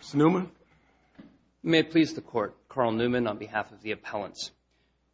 Mr. Newman. If you may please the Court, Carl Newman on behalf of the appellants.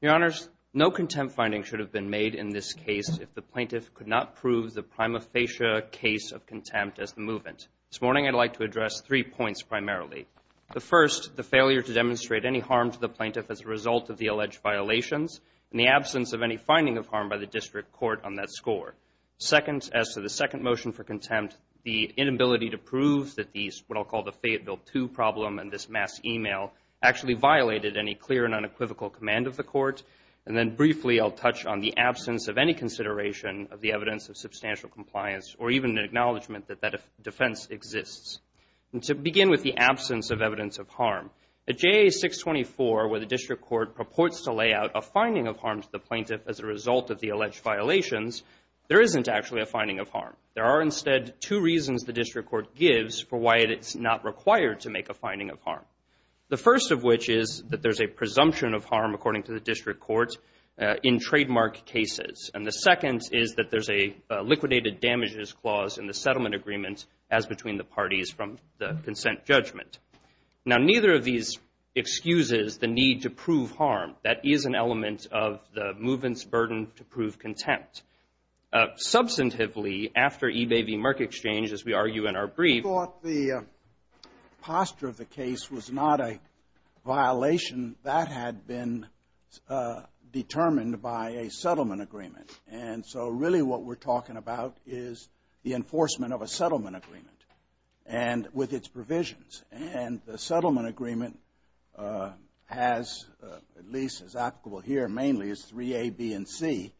Your Honors, no contempt finding should have been made in this case if the plaintiff could not prove the prima facie case of contempt as the movement. This morning I'd like to address three points primarily. The first, the failure to demonstrate any harm to the plaintiff as a result of the alleged violations, and the absence of any finding of harm by the district court on that score. Second, as to the second motion for contempt, the inability to prove that these, what I'll call the Fayetteville II problem and this mass e-mail, actually violated any clear and unequivocal command of the Court. And then briefly I'll touch on the absence of any consideration of the evidence of substantial compliance or even an acknowledgment that that defense exists. And to begin with the absence of evidence of harm, at JA 624 where the district court purports to lay out a finding of harm to the plaintiff as a result of the alleged violations, there isn't actually a finding of harm. There are instead two reasons the district court gives for why it's not required to make a finding of harm. The first of which is that there's a presumption of harm, according to the district court, in trademark cases. And the second is that there's a liquidated damages clause in the settlement agreement, as between the parties from the consent judgment. Now neither of these excuses the need to prove harm. That is an element of the movement's burden to prove contempt. Substantively, after eBay v. Merck Exchange, as we argue in our brief. We thought the posture of the case was not a violation. That had been determined by a settlement agreement. And so really what we're talking about is the enforcement of a settlement agreement and with its provisions. And the settlement agreement has, at least as applicable here mainly, is 3A, B, and C.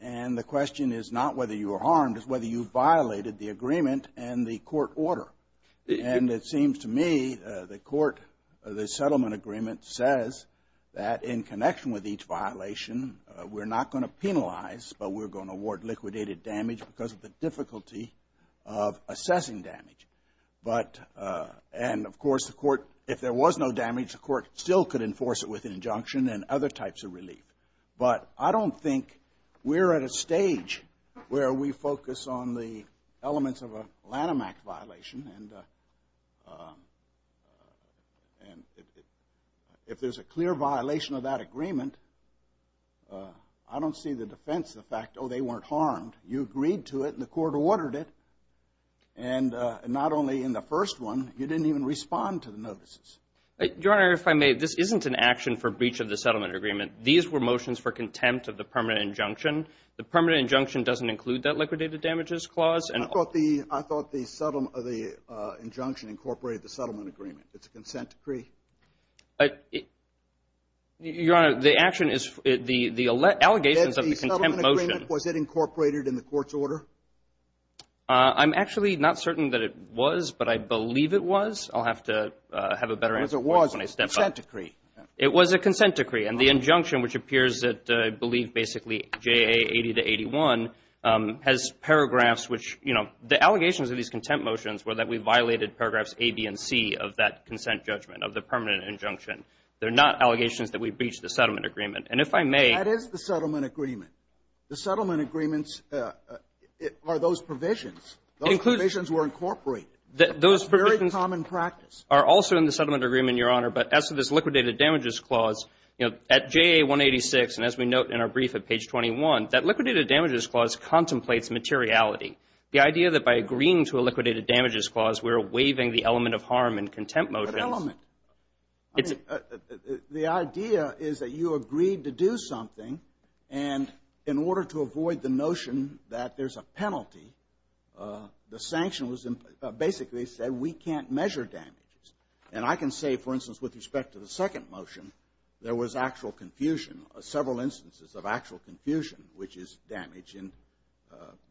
And the question is not whether you are harmed, it's whether you violated the agreement and the court order. And it seems to me the court, the settlement agreement says that in connection with each violation, we're not going to penalize, but we're going to award liquidated damage because of the difficulty of assessing damage. But, and of course the court, if there was no damage, the court still could enforce it with an injunction and other types of relief. But I don't think we're at a stage where we focus on the elements of a Lanham Act violation. And if there's a clear violation of that agreement, I don't see the defense of the fact, oh, they weren't harmed. You agreed to it and the court ordered it. And not only in the first one, you didn't even respond to the notices. Your Honor, if I may, this isn't an action for breach of the settlement agreement. These were motions for contempt of the permanent injunction. The permanent injunction doesn't include that liquidated damages clause. I thought the injunction incorporated the settlement agreement. It's a consent decree. Your Honor, the action is the allegations of the contempt motion. Was it incorporated in the court's order? I'm actually not certain that it was, but I believe it was. I'll have to have a better answer when I step up. It was a consent decree. It was a consent decree. And the injunction, which appears at, I believe, basically JA 80 to 81, has paragraphs which, you know, the allegations of these contempt motions were that we violated paragraphs A, B, and C of that consent judgment, of the permanent injunction. They're not allegations that we breached the settlement agreement. And if I may. That is the settlement agreement. The settlement agreements are those provisions. Those provisions were incorporated. Those provisions are also in the settlement agreement, Your Honor. But as to this liquidated damages clause, you know, at JA 186, and as we note in our brief at page 21, that liquidated damages clause contemplates materiality, the idea that by agreeing to a liquidated damages clause we're waiving the element of harm in contempt motions. What element? The idea is that you agreed to do something, and in order to avoid the notion that there's a penalty, the sanction was basically said we can't measure damages. And I can say, for instance, with respect to the second motion, there was actual confusion, several instances of actual confusion, which is damage.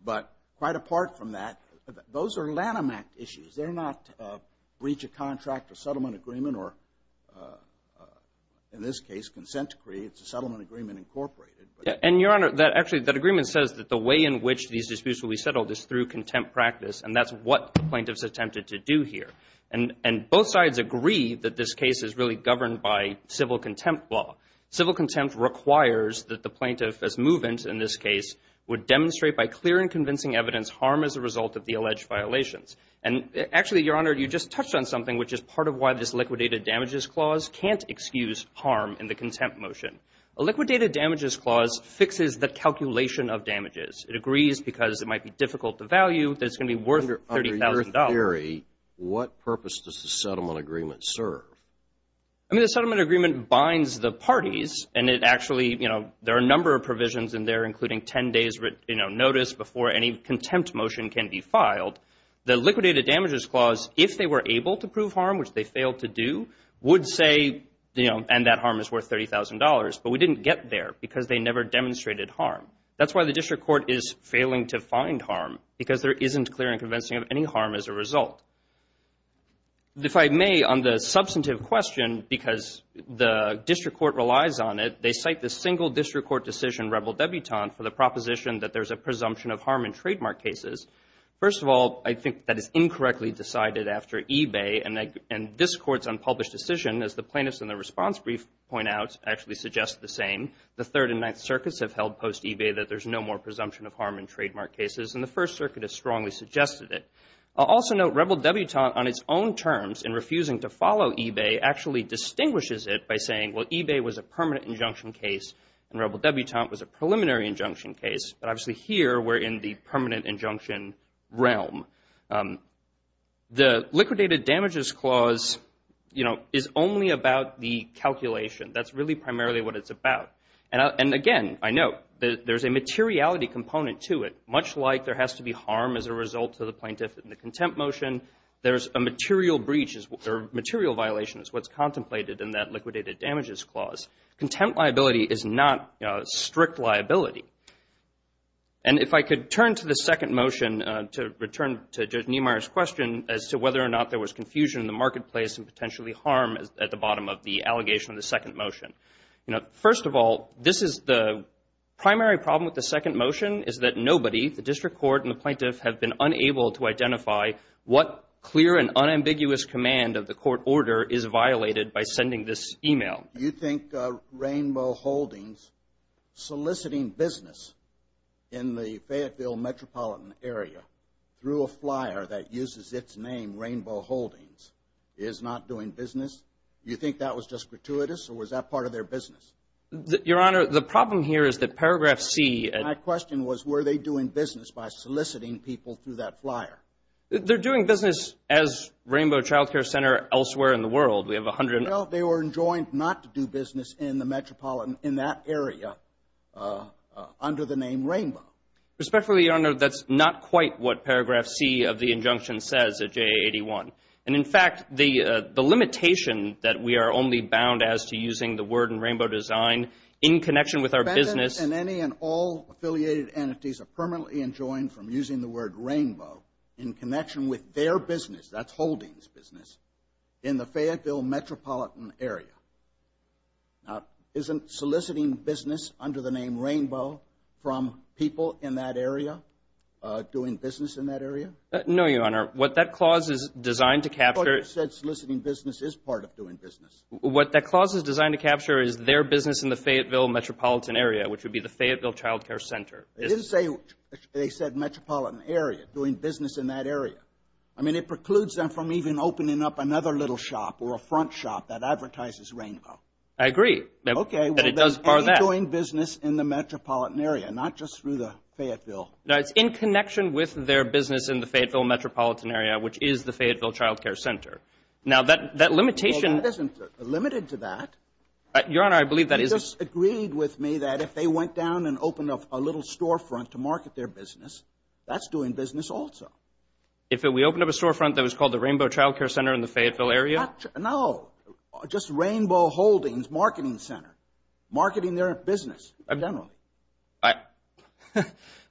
But quite apart from that, those are Lanham Act issues. They're not breach of contract or settlement agreement or, in this case, consent decree. It's a settlement agreement incorporated. And, Your Honor, actually that agreement says that the way in which these disputes will be settled is through contempt practice, and that's what the plaintiffs attempted to do here. And both sides agree that this case is really governed by civil contempt law. Civil contempt requires that the plaintiff, as movement in this case, would demonstrate by clear and convincing evidence harm as a result of the alleged violations. And, actually, Your Honor, you just touched on something, which is part of why this liquidated damages clause can't excuse harm in the contempt motion. A liquidated damages clause fixes the calculation of damages. It agrees because it might be difficult to value that it's going to be worth $30,000. Under your theory, what purpose does the settlement agreement serve? I mean, the settlement agreement binds the parties, and it actually, you know, there are a number of provisions in there, including 10 days' notice before any contempt motion can be filed. The liquidated damages clause, if they were able to prove harm, which they failed to do, would say, you know, and that harm is worth $30,000. But we didn't get there because they never demonstrated harm. That's why the district court is failing to find harm, because there isn't clear and convincing of any harm as a result. If I may, on the substantive question, because the district court relies on it, they cite the single district court decision, Rebel Debutant, for the proposition that there's a presumption of harm in trademark cases. First of all, I think that is incorrectly decided after eBay, and this court's unpublished decision, as the plaintiffs in the response brief point out, actually suggests the same. The Third and Ninth Circuits have held post-eBay that there's no more presumption of harm in trademark cases, and the First Circuit has strongly suggested it. I'll also note Rebel Debutant, on its own terms, in refusing to follow eBay, actually distinguishes it by saying, well, eBay was a permanent injunction case, and Rebel Debutant was a preliminary injunction case. But obviously here, we're in the permanent injunction realm. The Liquidated Damages Clause, you know, is only about the calculation. That's really primarily what it's about. And again, I note, there's a materiality component to it. Much like there has to be harm as a result to the plaintiff in the contempt motion, there's a material breach, or material violation, is what's contemplated in that Liquidated Damages Clause. Contempt liability is not strict liability. And if I could turn to the second motion to return to Judge Niemeyer's question as to whether or not there was confusion in the marketplace and potentially harm at the bottom of the allegation of the second motion. You know, first of all, this is the primary problem with the second motion, is that nobody, the district court and the plaintiff, have been unable to identify what clear and unambiguous command of the court order is violated by sending this e-mail. You think Rainbow Holdings soliciting business in the Fayetteville metropolitan area through a flyer that uses its name, Rainbow Holdings, is not doing business? You think that was just gratuitous, or was that part of their business? Your Honor, the problem here is that paragraph C. My question was, were they doing business by soliciting people through that flyer? They're doing business as Rainbow Child Care Center elsewhere in the world. Well, they were enjoined not to do business in the metropolitan, in that area, under the name Rainbow. Respectfully, Your Honor, that's not quite what paragraph C. of the injunction says at JA-81. And, in fact, the limitation that we are only bound as to using the word in Rainbow Design in connection with our business. Defendants and any and all affiliated entities are permanently enjoined from using the word Rainbow in connection with their business, that's Holdings' business, in the Fayetteville metropolitan area. Now, isn't soliciting business under the name Rainbow from people in that area doing business in that area? No, Your Honor. What that clause is designed to capture Well, you said soliciting business is part of doing business. What that clause is designed to capture is their business in the Fayetteville metropolitan area, which would be the Fayetteville Child Care Center. They didn't say they said metropolitan area, doing business in that area. I mean, it precludes them from even opening up another little shop or a front shop that advertises Rainbow. I agree. Okay. But it does bar that. Any doing business in the metropolitan area, not just through the Fayetteville. Now, it's in connection with their business in the Fayetteville metropolitan area, which is the Fayetteville Child Care Center. Now, that limitation Well, that isn't limited to that. Your Honor, I believe that is You just agreed with me that if they went down and opened up a little storefront to market their business, that's doing business also. If we opened up a storefront that was called the Rainbow Child Care Center in the Fayetteville area? No. Just Rainbow Holdings Marketing Center. Marketing their business, generally.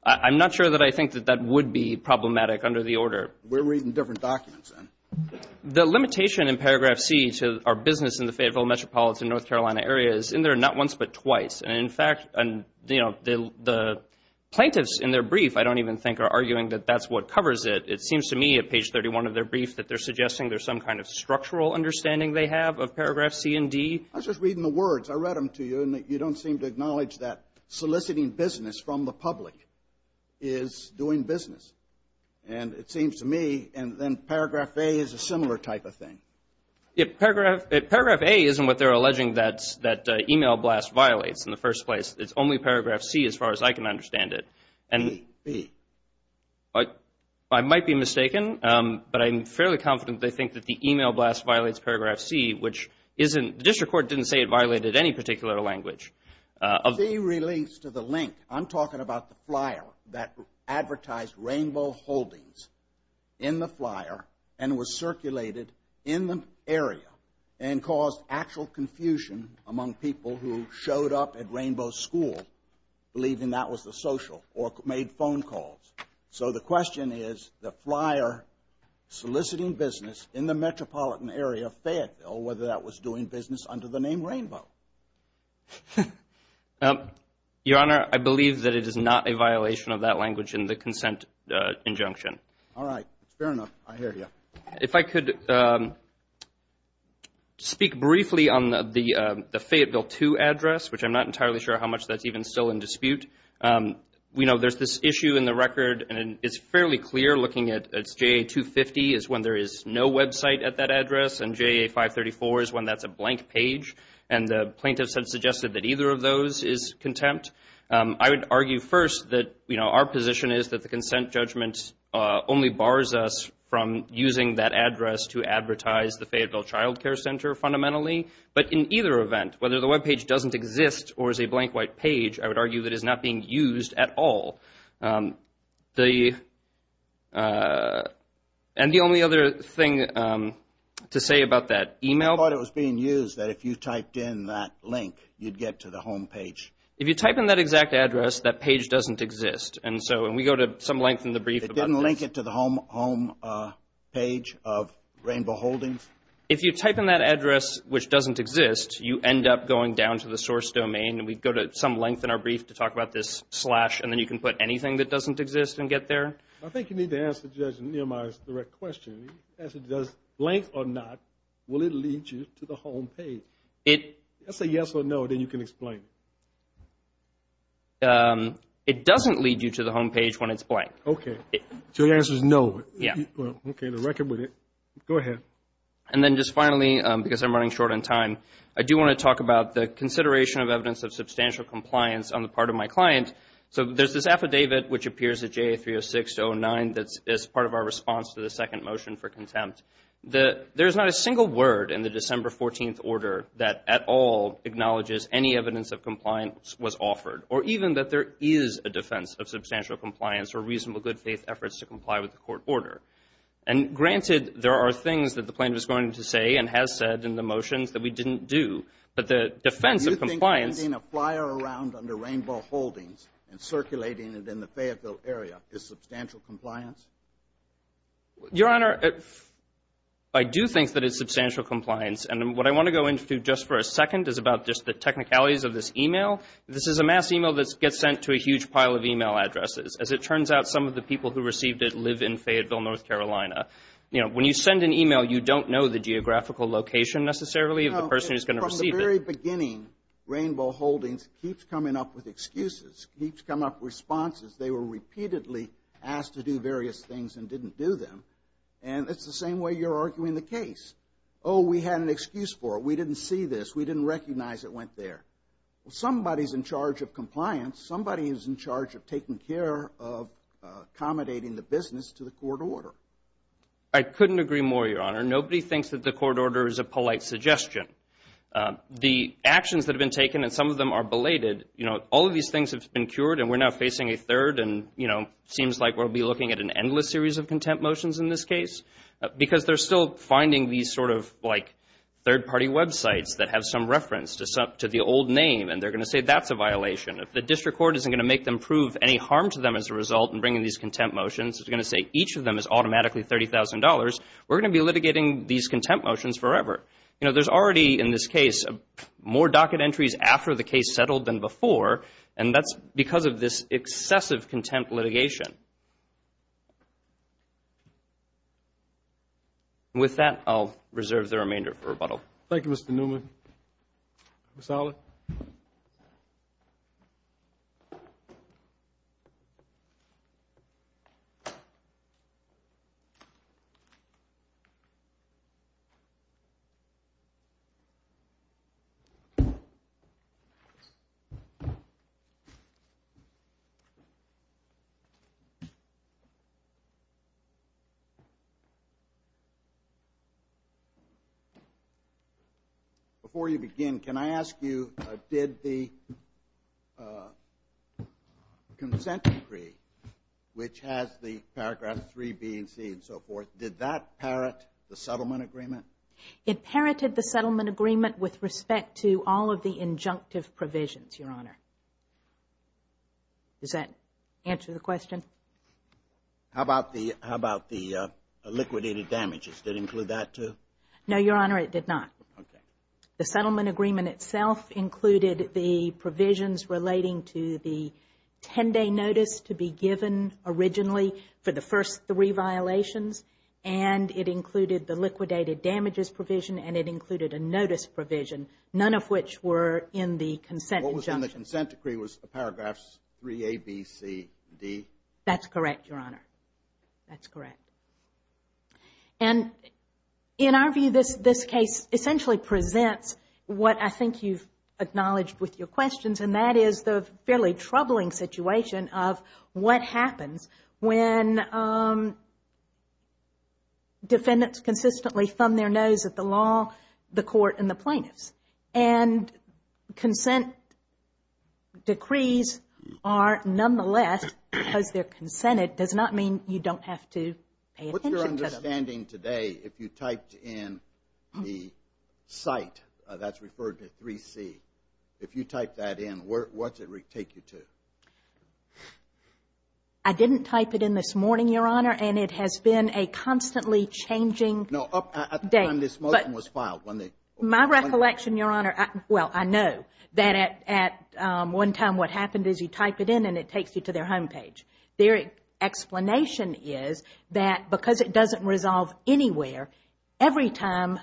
I'm not sure that I think that that would be problematic under the order. We're reading different documents then. The limitation in paragraph C to our business in the Fayetteville metropolitan North Carolina area is in there not once but twice. And, in fact, the plaintiffs in their brief I don't even think are arguing that that's what covers it. It seems to me at page 31 of their brief that they're suggesting there's some kind of structural understanding they have of paragraph C and D. I was just reading the words. I read them to you, and you don't seem to acknowledge that soliciting business from the public is doing business. And it seems to me, and then paragraph A is a similar type of thing. Paragraph A isn't what they're alleging that email blast violates in the first place. It's only paragraph C as far as I can understand it. B. I might be mistaken, but I'm fairly confident they think that the email blast violates paragraph C, which the district court didn't say it violated any particular language. B relates to the link. I'm talking about the flyer that advertised Rainbow Holdings in the flyer and was circulated in the area and caused actual confusion among people who showed up at Rainbow School believing that was the social or made phone calls. So the question is the flyer soliciting business in the metropolitan area of Fayetteville, whether that was doing business under the name Rainbow. Your Honor, I believe that it is not a violation of that language in the consent injunction. All right. Fair enough. I hear you. If I could speak briefly on the Fayetteville 2 address, which I'm not entirely sure how much that's even still in dispute. We know there's this issue in the record, and it's fairly clear looking at it's JA 250 is when there is no website at that address, and JA 534 is when that's a blank page. And the plaintiffs have suggested that either of those is contempt. I would argue first that, you know, our position is that the consent judgment only bars us from using that address to advertise the Fayetteville Child Care Center fundamentally. But in either event, whether the webpage doesn't exist or is a blank white page, I would argue that it's not being used at all. I thought it was being used that if you typed in that link, you'd get to the home page. If you type in that exact address, that page doesn't exist. And so when we go to some length in the brief about this. It didn't link it to the home page of Rainbow Holdings? If you type in that address, which doesn't exist, you end up going down to the source domain, and we go to some length in our brief to talk about this slash, and then you can put anything that doesn't exist and get there. I think you need to answer Judge Nehemiah's direct question. Blank or not, will it lead you to the home page? That's a yes or no, then you can explain. It doesn't lead you to the home page when it's blank. Okay. So the answer is no. Yeah. Okay, to reckon with it. Go ahead. And then just finally, because I'm running short on time, I do want to talk about the consideration of evidence of substantial compliance on the part of my client. So there's this affidavit which appears at JA-306-09 that's part of our response to the second motion for contempt. There's not a single word in the December 14th order that at all acknowledges any evidence of compliance was offered, or even that there is a defense of substantial compliance or reasonable good-faith efforts to comply with the court order. And granted, there are things that the plaintiff is going to say and has said in the motions that we didn't do, but the defense of compliance — and circulating it in the Fayetteville area — is substantial compliance? Your Honor, I do think that it's substantial compliance. And what I want to go into just for a second is about just the technicalities of this e-mail. This is a mass e-mail that gets sent to a huge pile of e-mail addresses. As it turns out, some of the people who received it live in Fayetteville, North Carolina. You know, when you send an e-mail, you don't know the geographical location necessarily of the person who's going to receive it. At the very beginning, Rainbow Holdings keeps coming up with excuses, keeps coming up with responses. They were repeatedly asked to do various things and didn't do them. And it's the same way you're arguing the case. Oh, we had an excuse for it. We didn't see this. We didn't recognize it went there. Well, somebody's in charge of compliance. Somebody is in charge of taking care of accommodating the business to the court order. I couldn't agree more, Your Honor. Nobody thinks that the court order is a polite suggestion. The actions that have been taken and some of them are belated, you know, all of these things have been cured and we're now facing a third and, you know, seems like we'll be looking at an endless series of contempt motions in this case because they're still finding these sort of like third-party websites that have some reference to the old name and they're going to say that's a violation. If the district court isn't going to make them prove any harm to them as a result in bringing these contempt motions, it's going to say each of them is automatically $30,000, we're going to be litigating these contempt motions forever. You know, there's already in this case more docket entries after the case settled than before and that's because of this excessive contempt litigation. With that, I'll reserve the remainder for rebuttal. Thank you, Mr. Newman. Mr. Allen. Before you begin, can I ask you did the consent decree, which has the paragraph 3B and C and so forth, did that parrot the settlement agreement? It parroted the settlement agreement with respect to all of the injunctive provisions, Your Honor. Does that answer the question? How about the liquidated damages? Did it include that too? No, Your Honor, it did not. Okay. The settlement agreement itself included the provisions relating to the 10-day notice to be given originally for the first three violations and it included the liquidated damages provision and it included a notice provision, none of which were in the consent injunction. What was in the consent decree was the paragraphs 3A, B, C, D? That's correct, Your Honor. That's correct. And in our view, this case essentially presents what I think you've acknowledged with your questions and that is the fairly troubling situation of what happens when defendants consistently thumb their nose at the law, the court, and the plaintiffs. And consent decrees are nonetheless, because they're consented, it does not mean you don't have to pay attention to them. What's your understanding today if you typed in the site that's referred to 3C, if you type that in, what's it take you to? I didn't type it in this morning, Your Honor, and it has been a constantly changing date. No, at the time this motion was filed. My recollection, Your Honor, well, I know that at one time what happened is you type it in and it takes you to their home page. Their explanation is that because it doesn't resolve anywhere, every time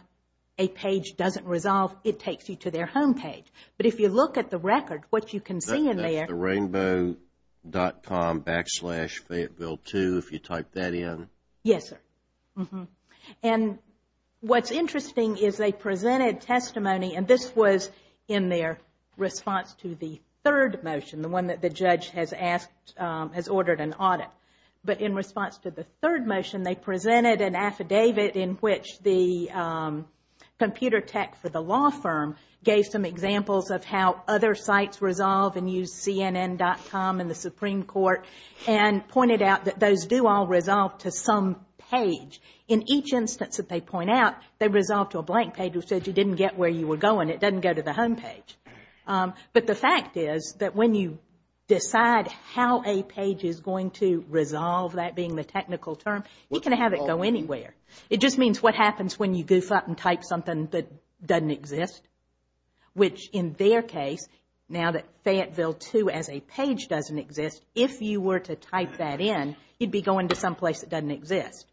a page doesn't resolve, it takes you to their home page. But if you look at the record, what you can see in there That's the rainbow.com backslash Fayetteville 2, if you type that in. Yes, sir. And what's interesting is they presented testimony, and this was in their response to the third motion, the one that the judge has ordered an audit. But in response to the third motion, they presented an affidavit in which the computer tech for the law firm gave some examples of how other sites resolve and use CNN.com and the Supreme Court and pointed out that those do all resolve to some page. In each instance that they point out, they resolve to a blank page which said you didn't get where you were going. It doesn't go to the home page. But the fact is that when you decide how a page is going to resolve, that being the technical term, you can have it go anywhere. It just means what happens when you goof up and type something that doesn't exist, which in their case, now that Fayetteville 2 as a page doesn't exist, if you were to type that in, you'd be going to someplace that doesn't exist.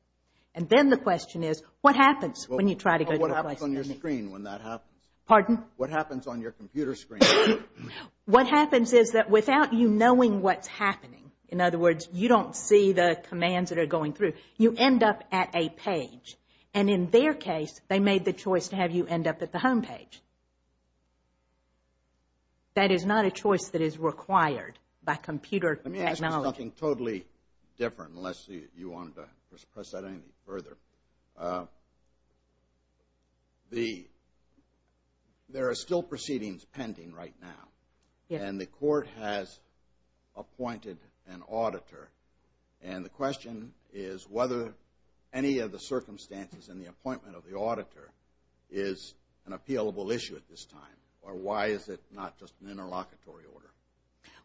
And then the question is, what happens when you try to go to a place that doesn't exist? What happens on your screen when that happens? Pardon? What happens on your computer screen? What happens is that without you knowing what's happening, in other words, you don't see the commands that are going through, you end up at a page. And in their case, they made the choice to have you end up at the home page. That is not a choice that is required by computer technology. This is something totally different, unless you wanted to press that any further. There are still proceedings pending right now. And the court has appointed an auditor. And the question is whether any of the circumstances in the appointment of the auditor is an appealable issue at this time, or why is it not just an interlocutory order?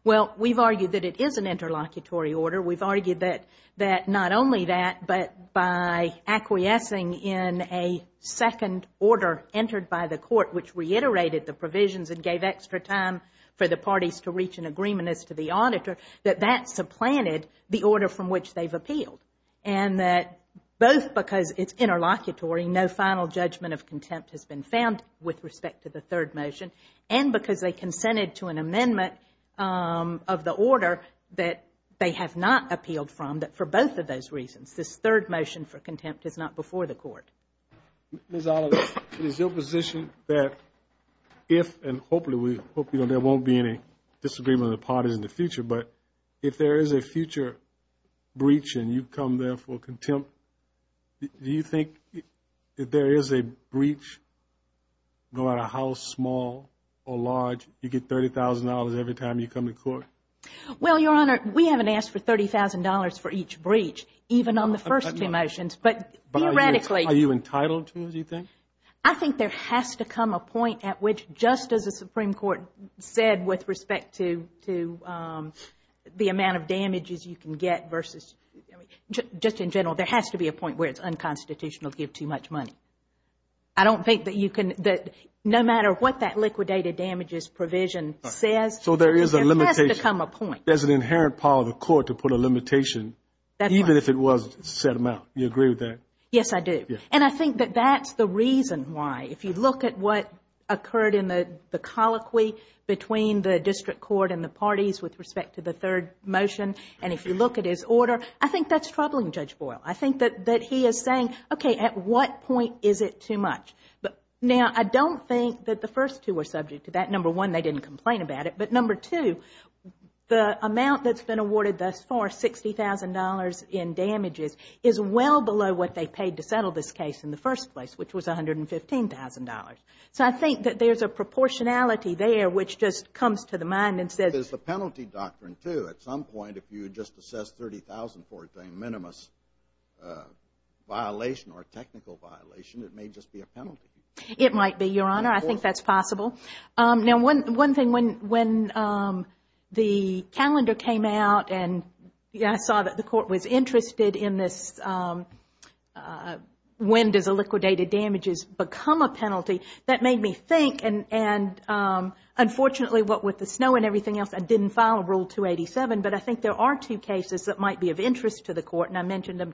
Well, we've argued that it is an interlocutory order. We've argued that not only that, but by acquiescing in a second order entered by the court, which reiterated the provisions and gave extra time for the parties to reach an agreement as to the auditor, that that supplanted the order from which they've appealed. And that both because it's interlocutory, no final judgment of contempt has been found with respect to the third motion, and because they consented to an amendment of the order that they have not appealed from, that for both of those reasons, this third motion for contempt is not before the court. Ms. Oliver, is your position that if, and hopefully there won't be any disagreement with the parties in the future, but if there is a future breach and you come there for contempt, do you think if there is a breach, no matter how small or large, you get $30,000 every time you come to court? Well, Your Honor, we haven't asked for $30,000 for each breach, even on the first two motions. But theoretically. Are you entitled to, do you think? I think there has to come a point at which, just as the Supreme Court said with respect to the amount of damages you can get, just in general, there has to be a point where it's unconstitutional to give too much money. I don't think that you can, no matter what that liquidated damages provision says, there has to come a point. So there is a limitation. There's an inherent power of the court to put a limitation, even if it was to set them out. Do you agree with that? Yes, I do. And I think that that's the reason why. If you look at what occurred in the colloquy between the district court and the parties with respect to the third motion, and if you look at his order, I think that's troubling Judge Boyle. I think that he is saying, okay, at what point is it too much? Now, I don't think that the first two were subject to that. Number one, they didn't complain about it. But number two, the amount that's been awarded thus far, $60,000 in damages, is well below what they paid to settle this case in the first place, which was $115,000. So I think that there's a proportionality there which just comes to the mind and says... If you would just assess $30,000 for a minimum violation or a technical violation, it may just be a penalty. It might be, Your Honor. I think that's possible. Now, one thing, when the calendar came out and I saw that the court was interested in this when does illiquidated damages become a penalty, that made me think. And unfortunately, what with the snow and everything else, I didn't file Rule 287. But I think there are two cases that might be of interest to the court. And I mentioned them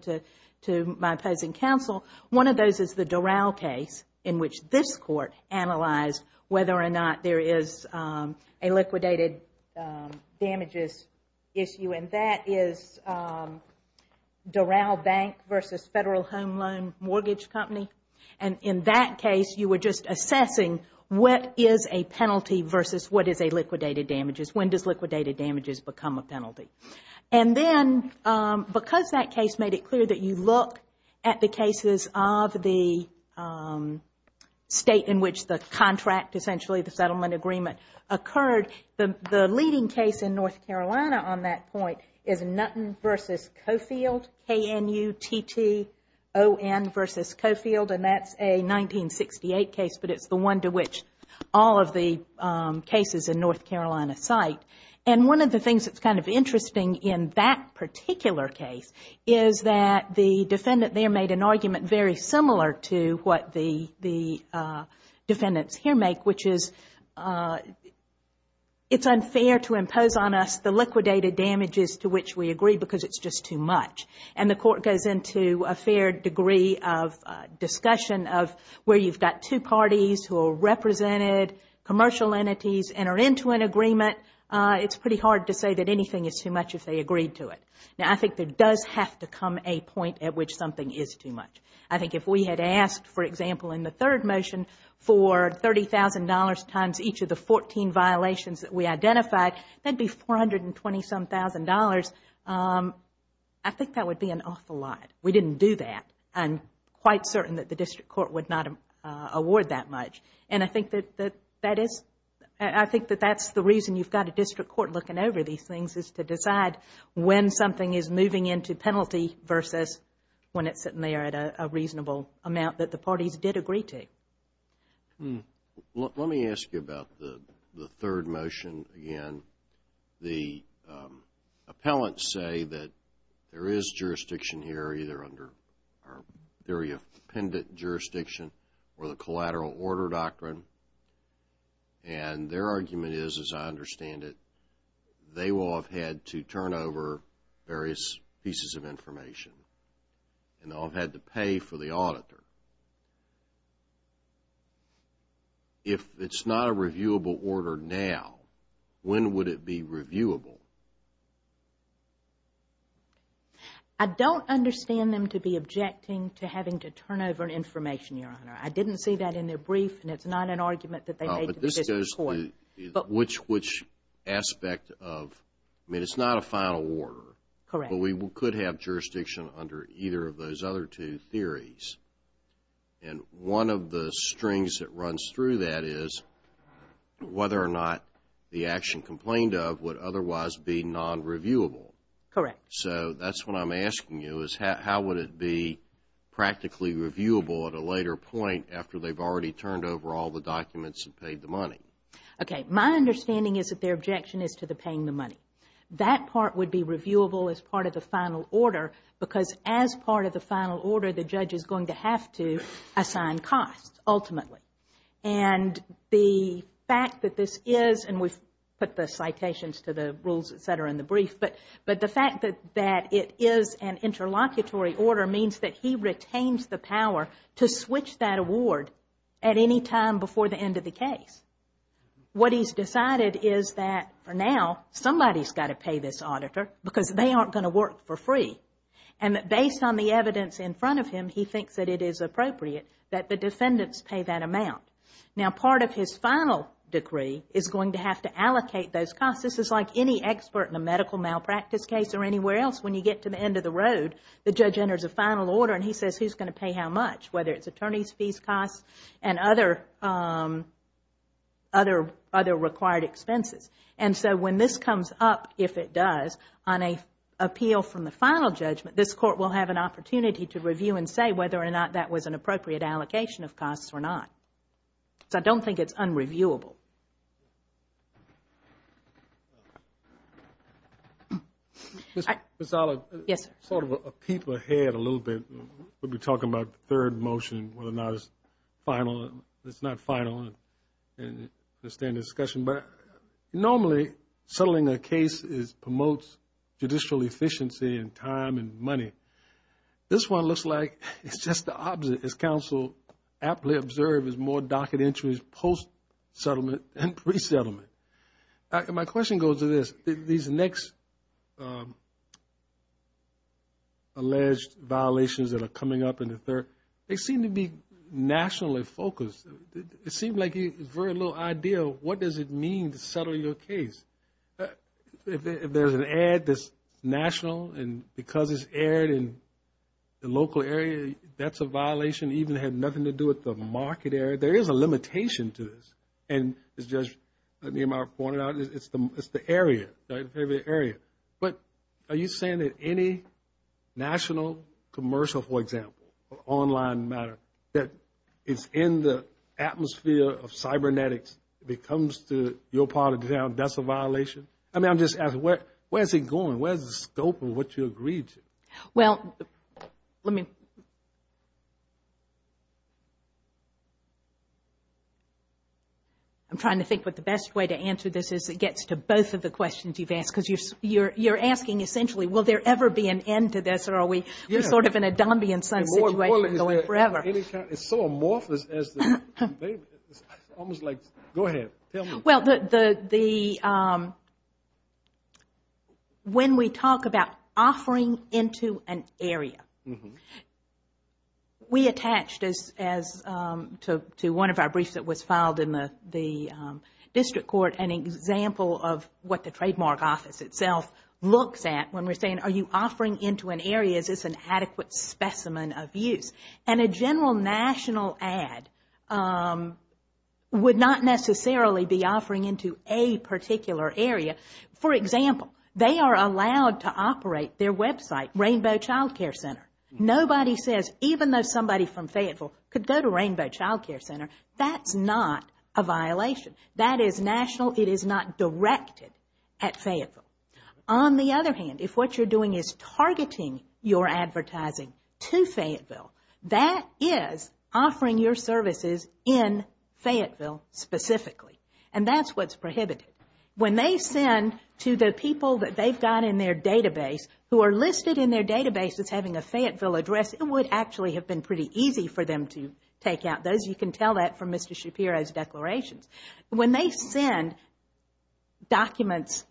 to my opposing counsel. One of those is the Doral case in which this court analyzed whether or not there is a liquidated damages issue. And that is Doral Bank versus Federal Home Loan Mortgage Company. And in that case, you were just assessing what is a penalty versus what is a liquidated damages. When does liquidated damages become a penalty? And then, because that case made it clear that you look at the cases of the state in which the contract, essentially the settlement agreement, occurred, the leading case in North Carolina on that point is Nutten versus Coffield. K-N-U-T-T-O-N versus Coffield. And that's a 1968 case, but it's the one to which all of the cases in North Carolina cite. And one of the things that's kind of interesting in that particular case is that the defendant there made an argument very similar to what the defendants here make, which is it's unfair to impose on us the liquidated damages to which we agree because it's just too much. And the court goes into a fair degree of discussion of where you've got two parties who are represented, commercial entities enter into an agreement. It's pretty hard to say that anything is too much if they agreed to it. Now, I think there does have to come a point at which something is too much. I think if we had asked, for example, in the third motion for $30,000 times each of the 14 violations that we identified, that would be $420,000. I think that would be an awful lot. We didn't do that. I'm quite certain that the district court would not award that much. And I think that that's the reason you've got a district court looking over these things, is to decide when something is moving into penalty versus when it's sitting there at a reasonable amount that the parties did agree to. Let me ask you about the third motion again. The appellants say that there is jurisdiction here either under our theory of pendent jurisdiction or the collateral order doctrine. And their argument is, as I understand it, they will have had to turn over various pieces of information. And they'll have had to pay for the auditor. If it's not a reviewable order now, when would it be reviewable? I don't understand them to be objecting to having to turn over information, Your Honor. I didn't see that in their brief, and it's not an argument that they made to the district court. Which aspect of – I mean, it's not a final order. Correct. But we could have jurisdiction under either of those other two theories. And one of the strings that runs through that is whether or not the action complained of would otherwise be non-reviewable. Correct. So that's what I'm asking you, is how would it be practically reviewable at a later point after they've already turned over all the documents and paid the money? Okay. My understanding is that their objection is to the paying the money. That part would be reviewable as part of the final order because as part of the final order, the judge is going to have to assign costs ultimately. And the fact that this is – and we've put the citations to the rules, et cetera, in the brief. But the fact that it is an interlocutory order means that he retains the power to switch that award at any time before the end of the case. What he's decided is that for now, somebody's got to pay this auditor because they aren't going to work for free. And based on the evidence in front of him, he thinks that it is appropriate that the defendants pay that amount. Now, part of his final decree is going to have to allocate those costs. This is like any expert in a medical malpractice case or anywhere else. When you get to the end of the road, the judge enters a final order and he says who's going to pay how much, whether it's attorney's fees costs and other required expenses. And so when this comes up, if it does, on an appeal from the final judgment, this court will have an opportunity to review and say whether or not that was an appropriate allocation of costs or not. So I don't think it's unreviewable. Ms. Oliver, sort of a peep ahead a little bit. We'll be talking about the third motion, whether or not it's final. It's not final. It's still in discussion. Normally, settling a case promotes judicial efficiency and time and money. This one looks like it's just the opposite. As counsel aptly observed, it's more docket entries post-settlement and pre-settlement. My question goes to this. These next alleged violations that are coming up in the third, they seem to be nationally focused. It seems like there's very little idea of what does it mean to settle your case. If there's an ad that's national and because it's aired in the local area, that's a violation. It even had nothing to do with the market area. There is a limitation to this. And as Judge Niemeyer pointed out, it's the area, the area. But are you saying that any national commercial, for example, or online matter, that is in the atmosphere of cybernetics, if it comes to your part of the town, that's a violation? I mean, I'm just asking, where is it going? Where is the scope of what you agreed to? Well, let me. I'm trying to think what the best way to answer this as it gets to both of the questions you've asked. Because you're asking, essentially, will there ever be an end to this, or are we sort of in a Dombian sun situation going forever? It's so amorphous. It's almost like, go ahead, tell me. Well, when we talk about offering into an area, we attached to one of our briefs that was filed in the district court an example of what the trademark office itself looks at when we're saying, are you offering into an area, is this an adequate specimen of use? And a general national ad would not necessarily be offering into a particular area. For example, they are allowed to operate their website, Rainbow Child Care Center. Nobody says, even though somebody from Fayetteville could go to Rainbow Child Care Center, that's not a violation. That is national. It is not directed at Fayetteville. On the other hand, if what you're doing is targeting your advertising to Fayetteville, that is offering your services in Fayetteville specifically. And that's what's prohibited. When they send to the people that they've got in their database, who are listed in their database as having a Fayetteville address, it would actually have been pretty easy for them to take out those. You can tell that from Mr. Shapiro's declarations. When they send documents,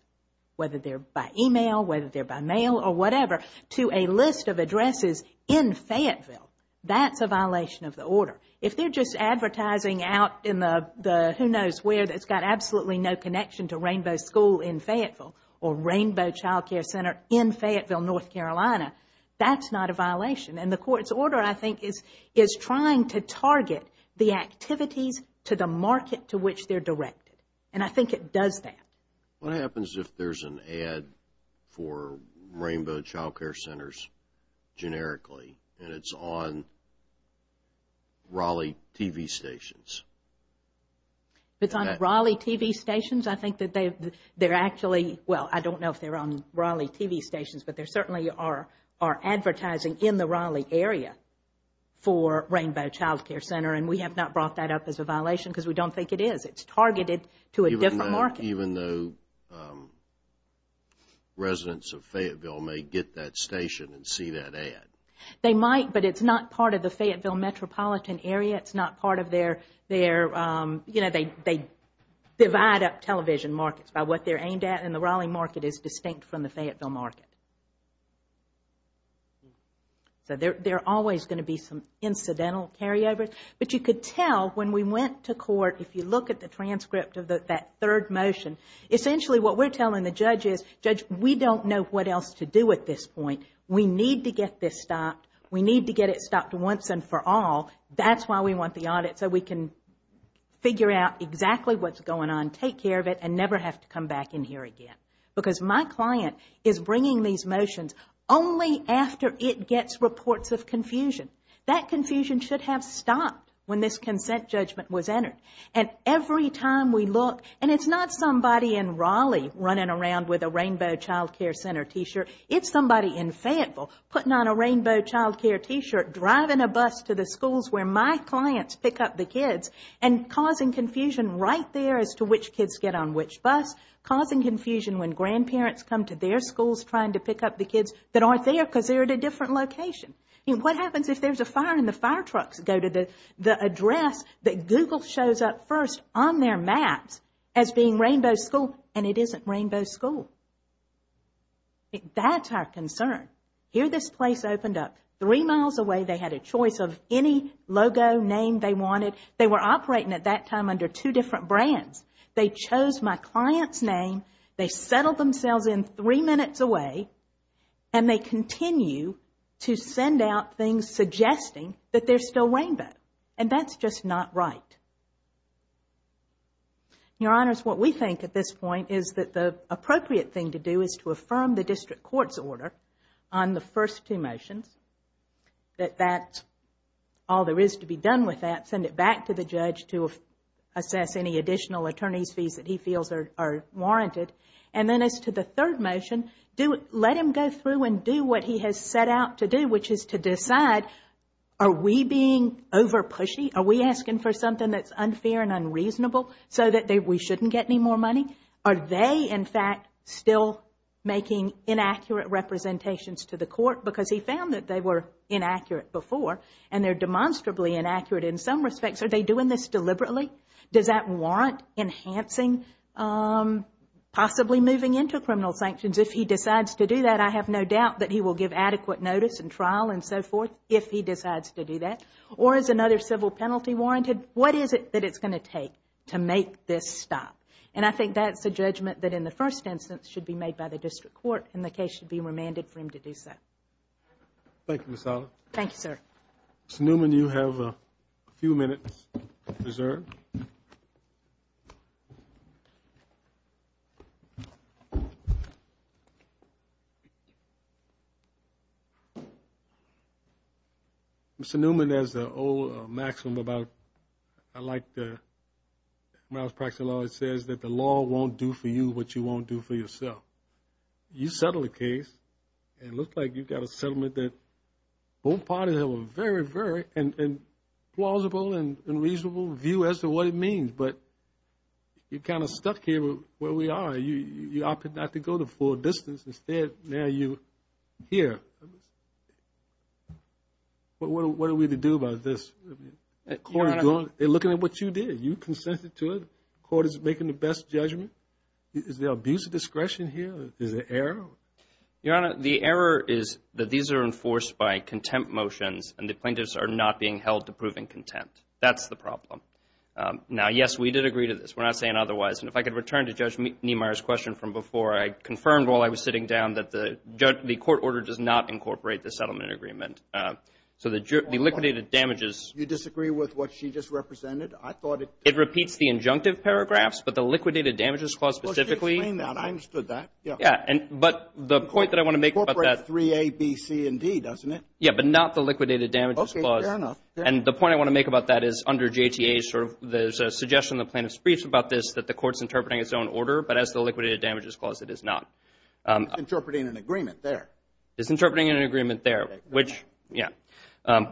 whether they're by email, whether they're by mail or whatever, to a list of addresses in Fayetteville, that's a violation of the order. If they're just advertising out in the who knows where that's got absolutely no connection to Rainbow School in Fayetteville or Rainbow Child Care Center in Fayetteville, North Carolina, that's not a violation. And the court's order, I think, is trying to target the activities to the market to which they're directed. And I think it does that. What happens if there's an ad for Rainbow Child Care Centers generically and it's on Raleigh TV stations? If it's on Raleigh TV stations, I think that they're actually, well, I don't know if they're on Raleigh TV stations, but there certainly are advertising in the Raleigh area for Rainbow Child Care Center. And we have not brought that up as a violation because we don't think it is. It's targeted to a different market. Even though residents of Fayetteville may get that station and see that ad? They might, but it's not part of the Fayetteville metropolitan area. It's not part of their, you know, they divide up television markets by what they're aimed at. And the Raleigh market is distinct from the Fayetteville market. So there are always going to be some incidental carryovers. But you could tell when we went to court, if you look at the transcript of that third motion, essentially what we're telling the judge is, Judge, we don't know what else to do at this point. We need to get this stopped. We need to get it stopped once and for all. That's why we want the audit, so we can figure out exactly what's going on, take care of it, and never have to come back in here again. Because my client is bringing these motions only after it gets reports of confusion. That confusion should have stopped when this consent judgment was entered. And every time we look, and it's not somebody in Raleigh running around with a Rainbow Child Care Center T-shirt. It's somebody in Fayetteville putting on a Rainbow Child Care T-shirt, driving a bus to the schools where my clients pick up the kids, and causing confusion right there as to which kids get on which bus, causing confusion when grandparents come to their schools trying to pick up the kids that aren't there because they're at a different location. What happens if there's a fire and the fire trucks go to the address that Google shows up first on their maps as being Rainbow School, and it isn't Rainbow School? That's our concern. Here this place opened up. Three miles away they had a choice of any logo, name they wanted. They were operating at that time under two different brands. They chose my client's name. They settled themselves in three minutes away, and they continue to send out things suggesting that they're still Rainbow. And that's just not right. Your Honors, what we think at this point is that the appropriate thing to do is to affirm the district court's order on the first two motions, that that's all there is to be done with that, send it back to the judge to assess any additional attorney's fees that he feels are warranted. And then as to the third motion, let him go through and do what he has set out to do, which is to decide, are we being over-pushy? Are we asking for something that's unfair and unreasonable so that we shouldn't get any more money? Are they, in fact, still making inaccurate representations to the court because he found that they were inaccurate before, and they're demonstrably inaccurate in some respects? Are they doing this deliberately? Does that warrant enhancing, possibly moving into criminal sanctions if he decides to do that? I have no doubt that he will give adequate notice and trial and so forth if he decides to do that. Or is another civil penalty warranted? What is it that it's going to take to make this stop? And I think that's a judgment that in the first instance should be made by the district court, and the case should be remanded for him to do so. Thank you, Ms. Sala. Thank you, sir. Mr. Newman, you have a few minutes reserved. Mr. Newman, there's an old maxim about, like when I was practicing law, it says that the law won't do for you what you won't do for yourself. You settled a case, and it looks like you've got a settlement that both parties have a very, very plausible and reasonable view as to what it means, but you're kind of stuck here where we are. You opted not to go the full distance. Instead, now you're here. What are we to do about this? The court is looking at what you did. You consented to it. The court is making the best judgment. Is there abuse of discretion here? Is there error? Your Honor, the error is that these are enforced by contempt motions, and the plaintiffs are not being held to proving contempt. That's the problem. Now, yes, we did agree to this. We're not saying otherwise. And if I could return to Judge Niemeyer's question from before, I confirmed while I was sitting down that the court order does not incorporate the settlement agreement. So the liquidated damages ---- You disagree with what she just represented? I thought it ---- It repeats the injunctive paragraphs, but the liquidated damages clause specifically ---- Well, she explained that. I understood that. Yeah. But the point that I want to make about that ---- It incorporates 3A, B, C, and D, doesn't it? Yeah, but not the liquidated damages clause. Okay, fair enough. And the point I want to make about that is under JTA, there's a suggestion in the plaintiff's briefs about this, that the court's interpreting its own order, but as the liquidated damages clause it is not. It's interpreting an agreement there. It's interpreting an agreement there, which, yeah,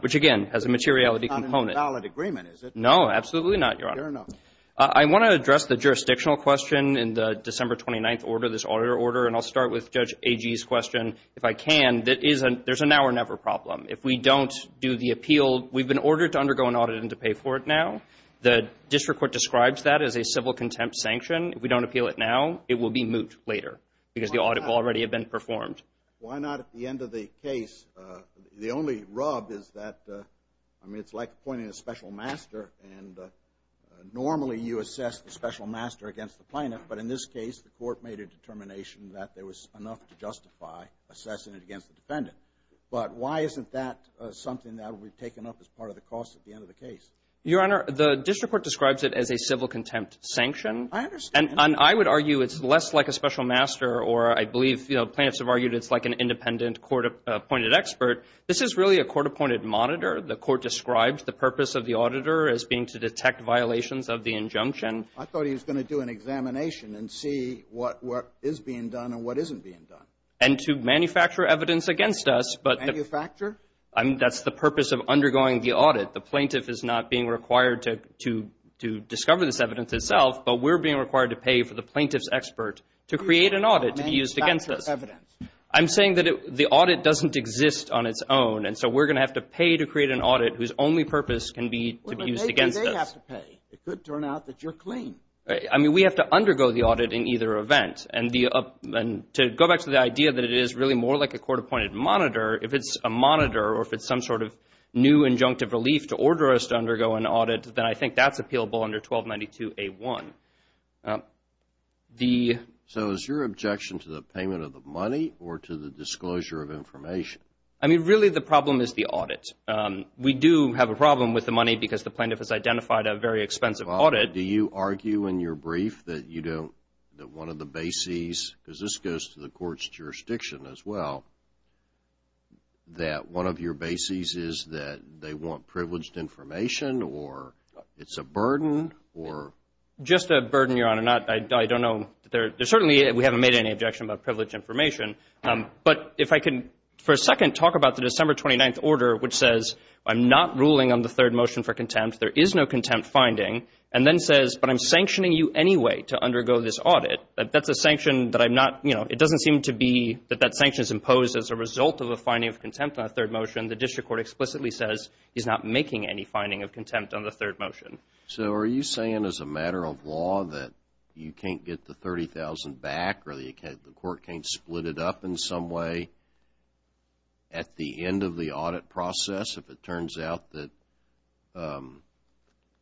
which again has a materiality component. It's not a valid agreement, is it? No, absolutely not, Your Honor. Fair enough. I want to address the jurisdictional question in the December 29th order, this audit order, and I'll start with Judge Agee's question if I can. There's a now or never problem. If we don't do the appeal, we've been ordered to undergo an audit and to pay for it now. The district court describes that as a civil contempt sanction. If we don't appeal it now, it will be moot later because the audit will already have been performed. Why not at the end of the case? The only rub is that, I mean, it's like appointing a special master, and normally you assess the special master against the plaintiff, but in this case the court made a determination that there was enough to justify assessing it against the defendant. But why isn't that something that would be taken up as part of the cost at the end of the case? Your Honor, the district court describes it as a civil contempt sanction. I understand. And I would argue it's less like a special master or I believe plaintiffs have argued it's like an independent court-appointed expert. This is really a court-appointed monitor. The court describes the purpose of the auditor as being to detect violations of the injunction. I thought he was going to do an examination and see what is being done and what isn't being done. And to manufacture evidence against us. Manufacture? That's the purpose of undergoing the audit. The plaintiff is not being required to discover this evidence itself, but we're being required to pay for the plaintiff's expert to create an audit to be used against us. I'm saying that the audit doesn't exist on its own, and so we're going to have to pay to create an audit whose only purpose can be to be used against us. They have to pay. It could turn out that you're clean. I mean, we have to undergo the audit in either event. And to go back to the idea that it is really more like a court-appointed monitor, if it's a monitor or if it's some sort of new injunctive relief to order us to undergo an audit, then I think that's appealable under 1292A1. So is your objection to the payment of the money or to the disclosure of information? I mean, really the problem is the audit. We do have a problem with the money because the plaintiff has identified a very expensive audit. Do you argue in your brief that one of the bases, because this goes to the court's jurisdiction as well, that one of your bases is that they want privileged information or it's a burden? Just a burden, Your Honor. I don't know. Certainly we haven't made any objection about privileged information. But if I can for a second talk about the December 29th order, which says I'm not ruling on the third motion for contempt, there is no contempt finding, and then says but I'm sanctioning you anyway to undergo this audit. That's a sanction that I'm not, you know, it doesn't seem to be that that sanction is imposed as a result of a finding of contempt on the third motion. The district court explicitly says he's not making any finding of contempt on the third motion. So are you saying as a matter of law that you can't get the $30,000 back or the court can't split it up in some way at the end of the audit process if it turns out that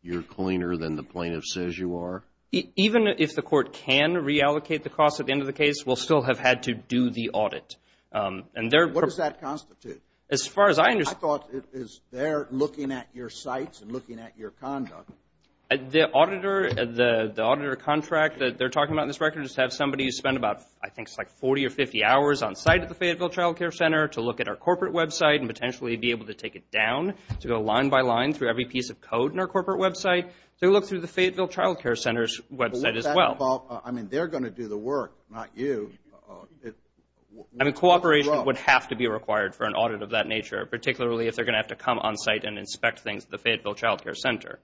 you're cleaner than the plaintiff says you are? Even if the court can reallocate the cost at the end of the case, we'll still have had to do the audit. What does that constitute? As far as I understand. I thought it is they're looking at your sites and looking at your conduct. The auditor contract that they're talking about in this record is to have somebody spend about I think it's like 40 or 50 hours on site at the Fayetteville Child Care Center to look at our corporate website and potentially be able to take it down to go line by line through every piece of code in our corporate website to look through the Fayetteville Child Care Center's website as well. I mean they're going to do the work, not you. I mean cooperation would have to be required for an audit of that nature, particularly if they're going to have to come on site and inspect things at the Fayetteville Child Care Center.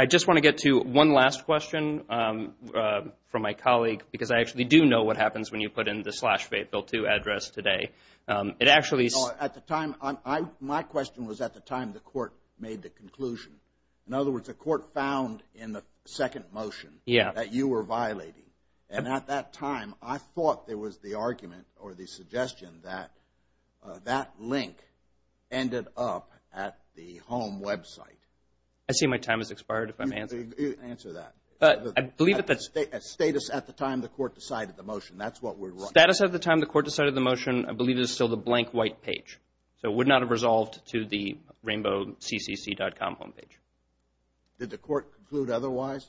I just want to get to one last question from my colleague because I actually do know what happens when you put in the slash Fayetteville 2 address today. My question was at the time the court made the conclusion. In other words, the court found in the second motion that you were violating, and at that time I thought there was the argument or the suggestion that that link ended up at the home website. I see my time has expired if I'm answering. Answer that. Status at the time the court decided the motion. That's what we're running. Status at the time the court decided the motion, I believe it is still the blank white page. So it would not have resolved to the RainbowCCC.com homepage. Did the court conclude otherwise?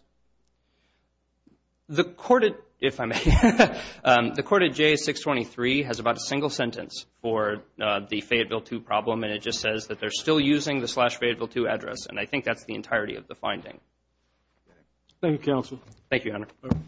The court at J623 has about a single sentence for the Fayetteville 2 problem, and it just says that they're still using the slash Fayetteville 2 address, and I think that's the entirety of the finding. Thank you, counsel. Thank you, Your Honor.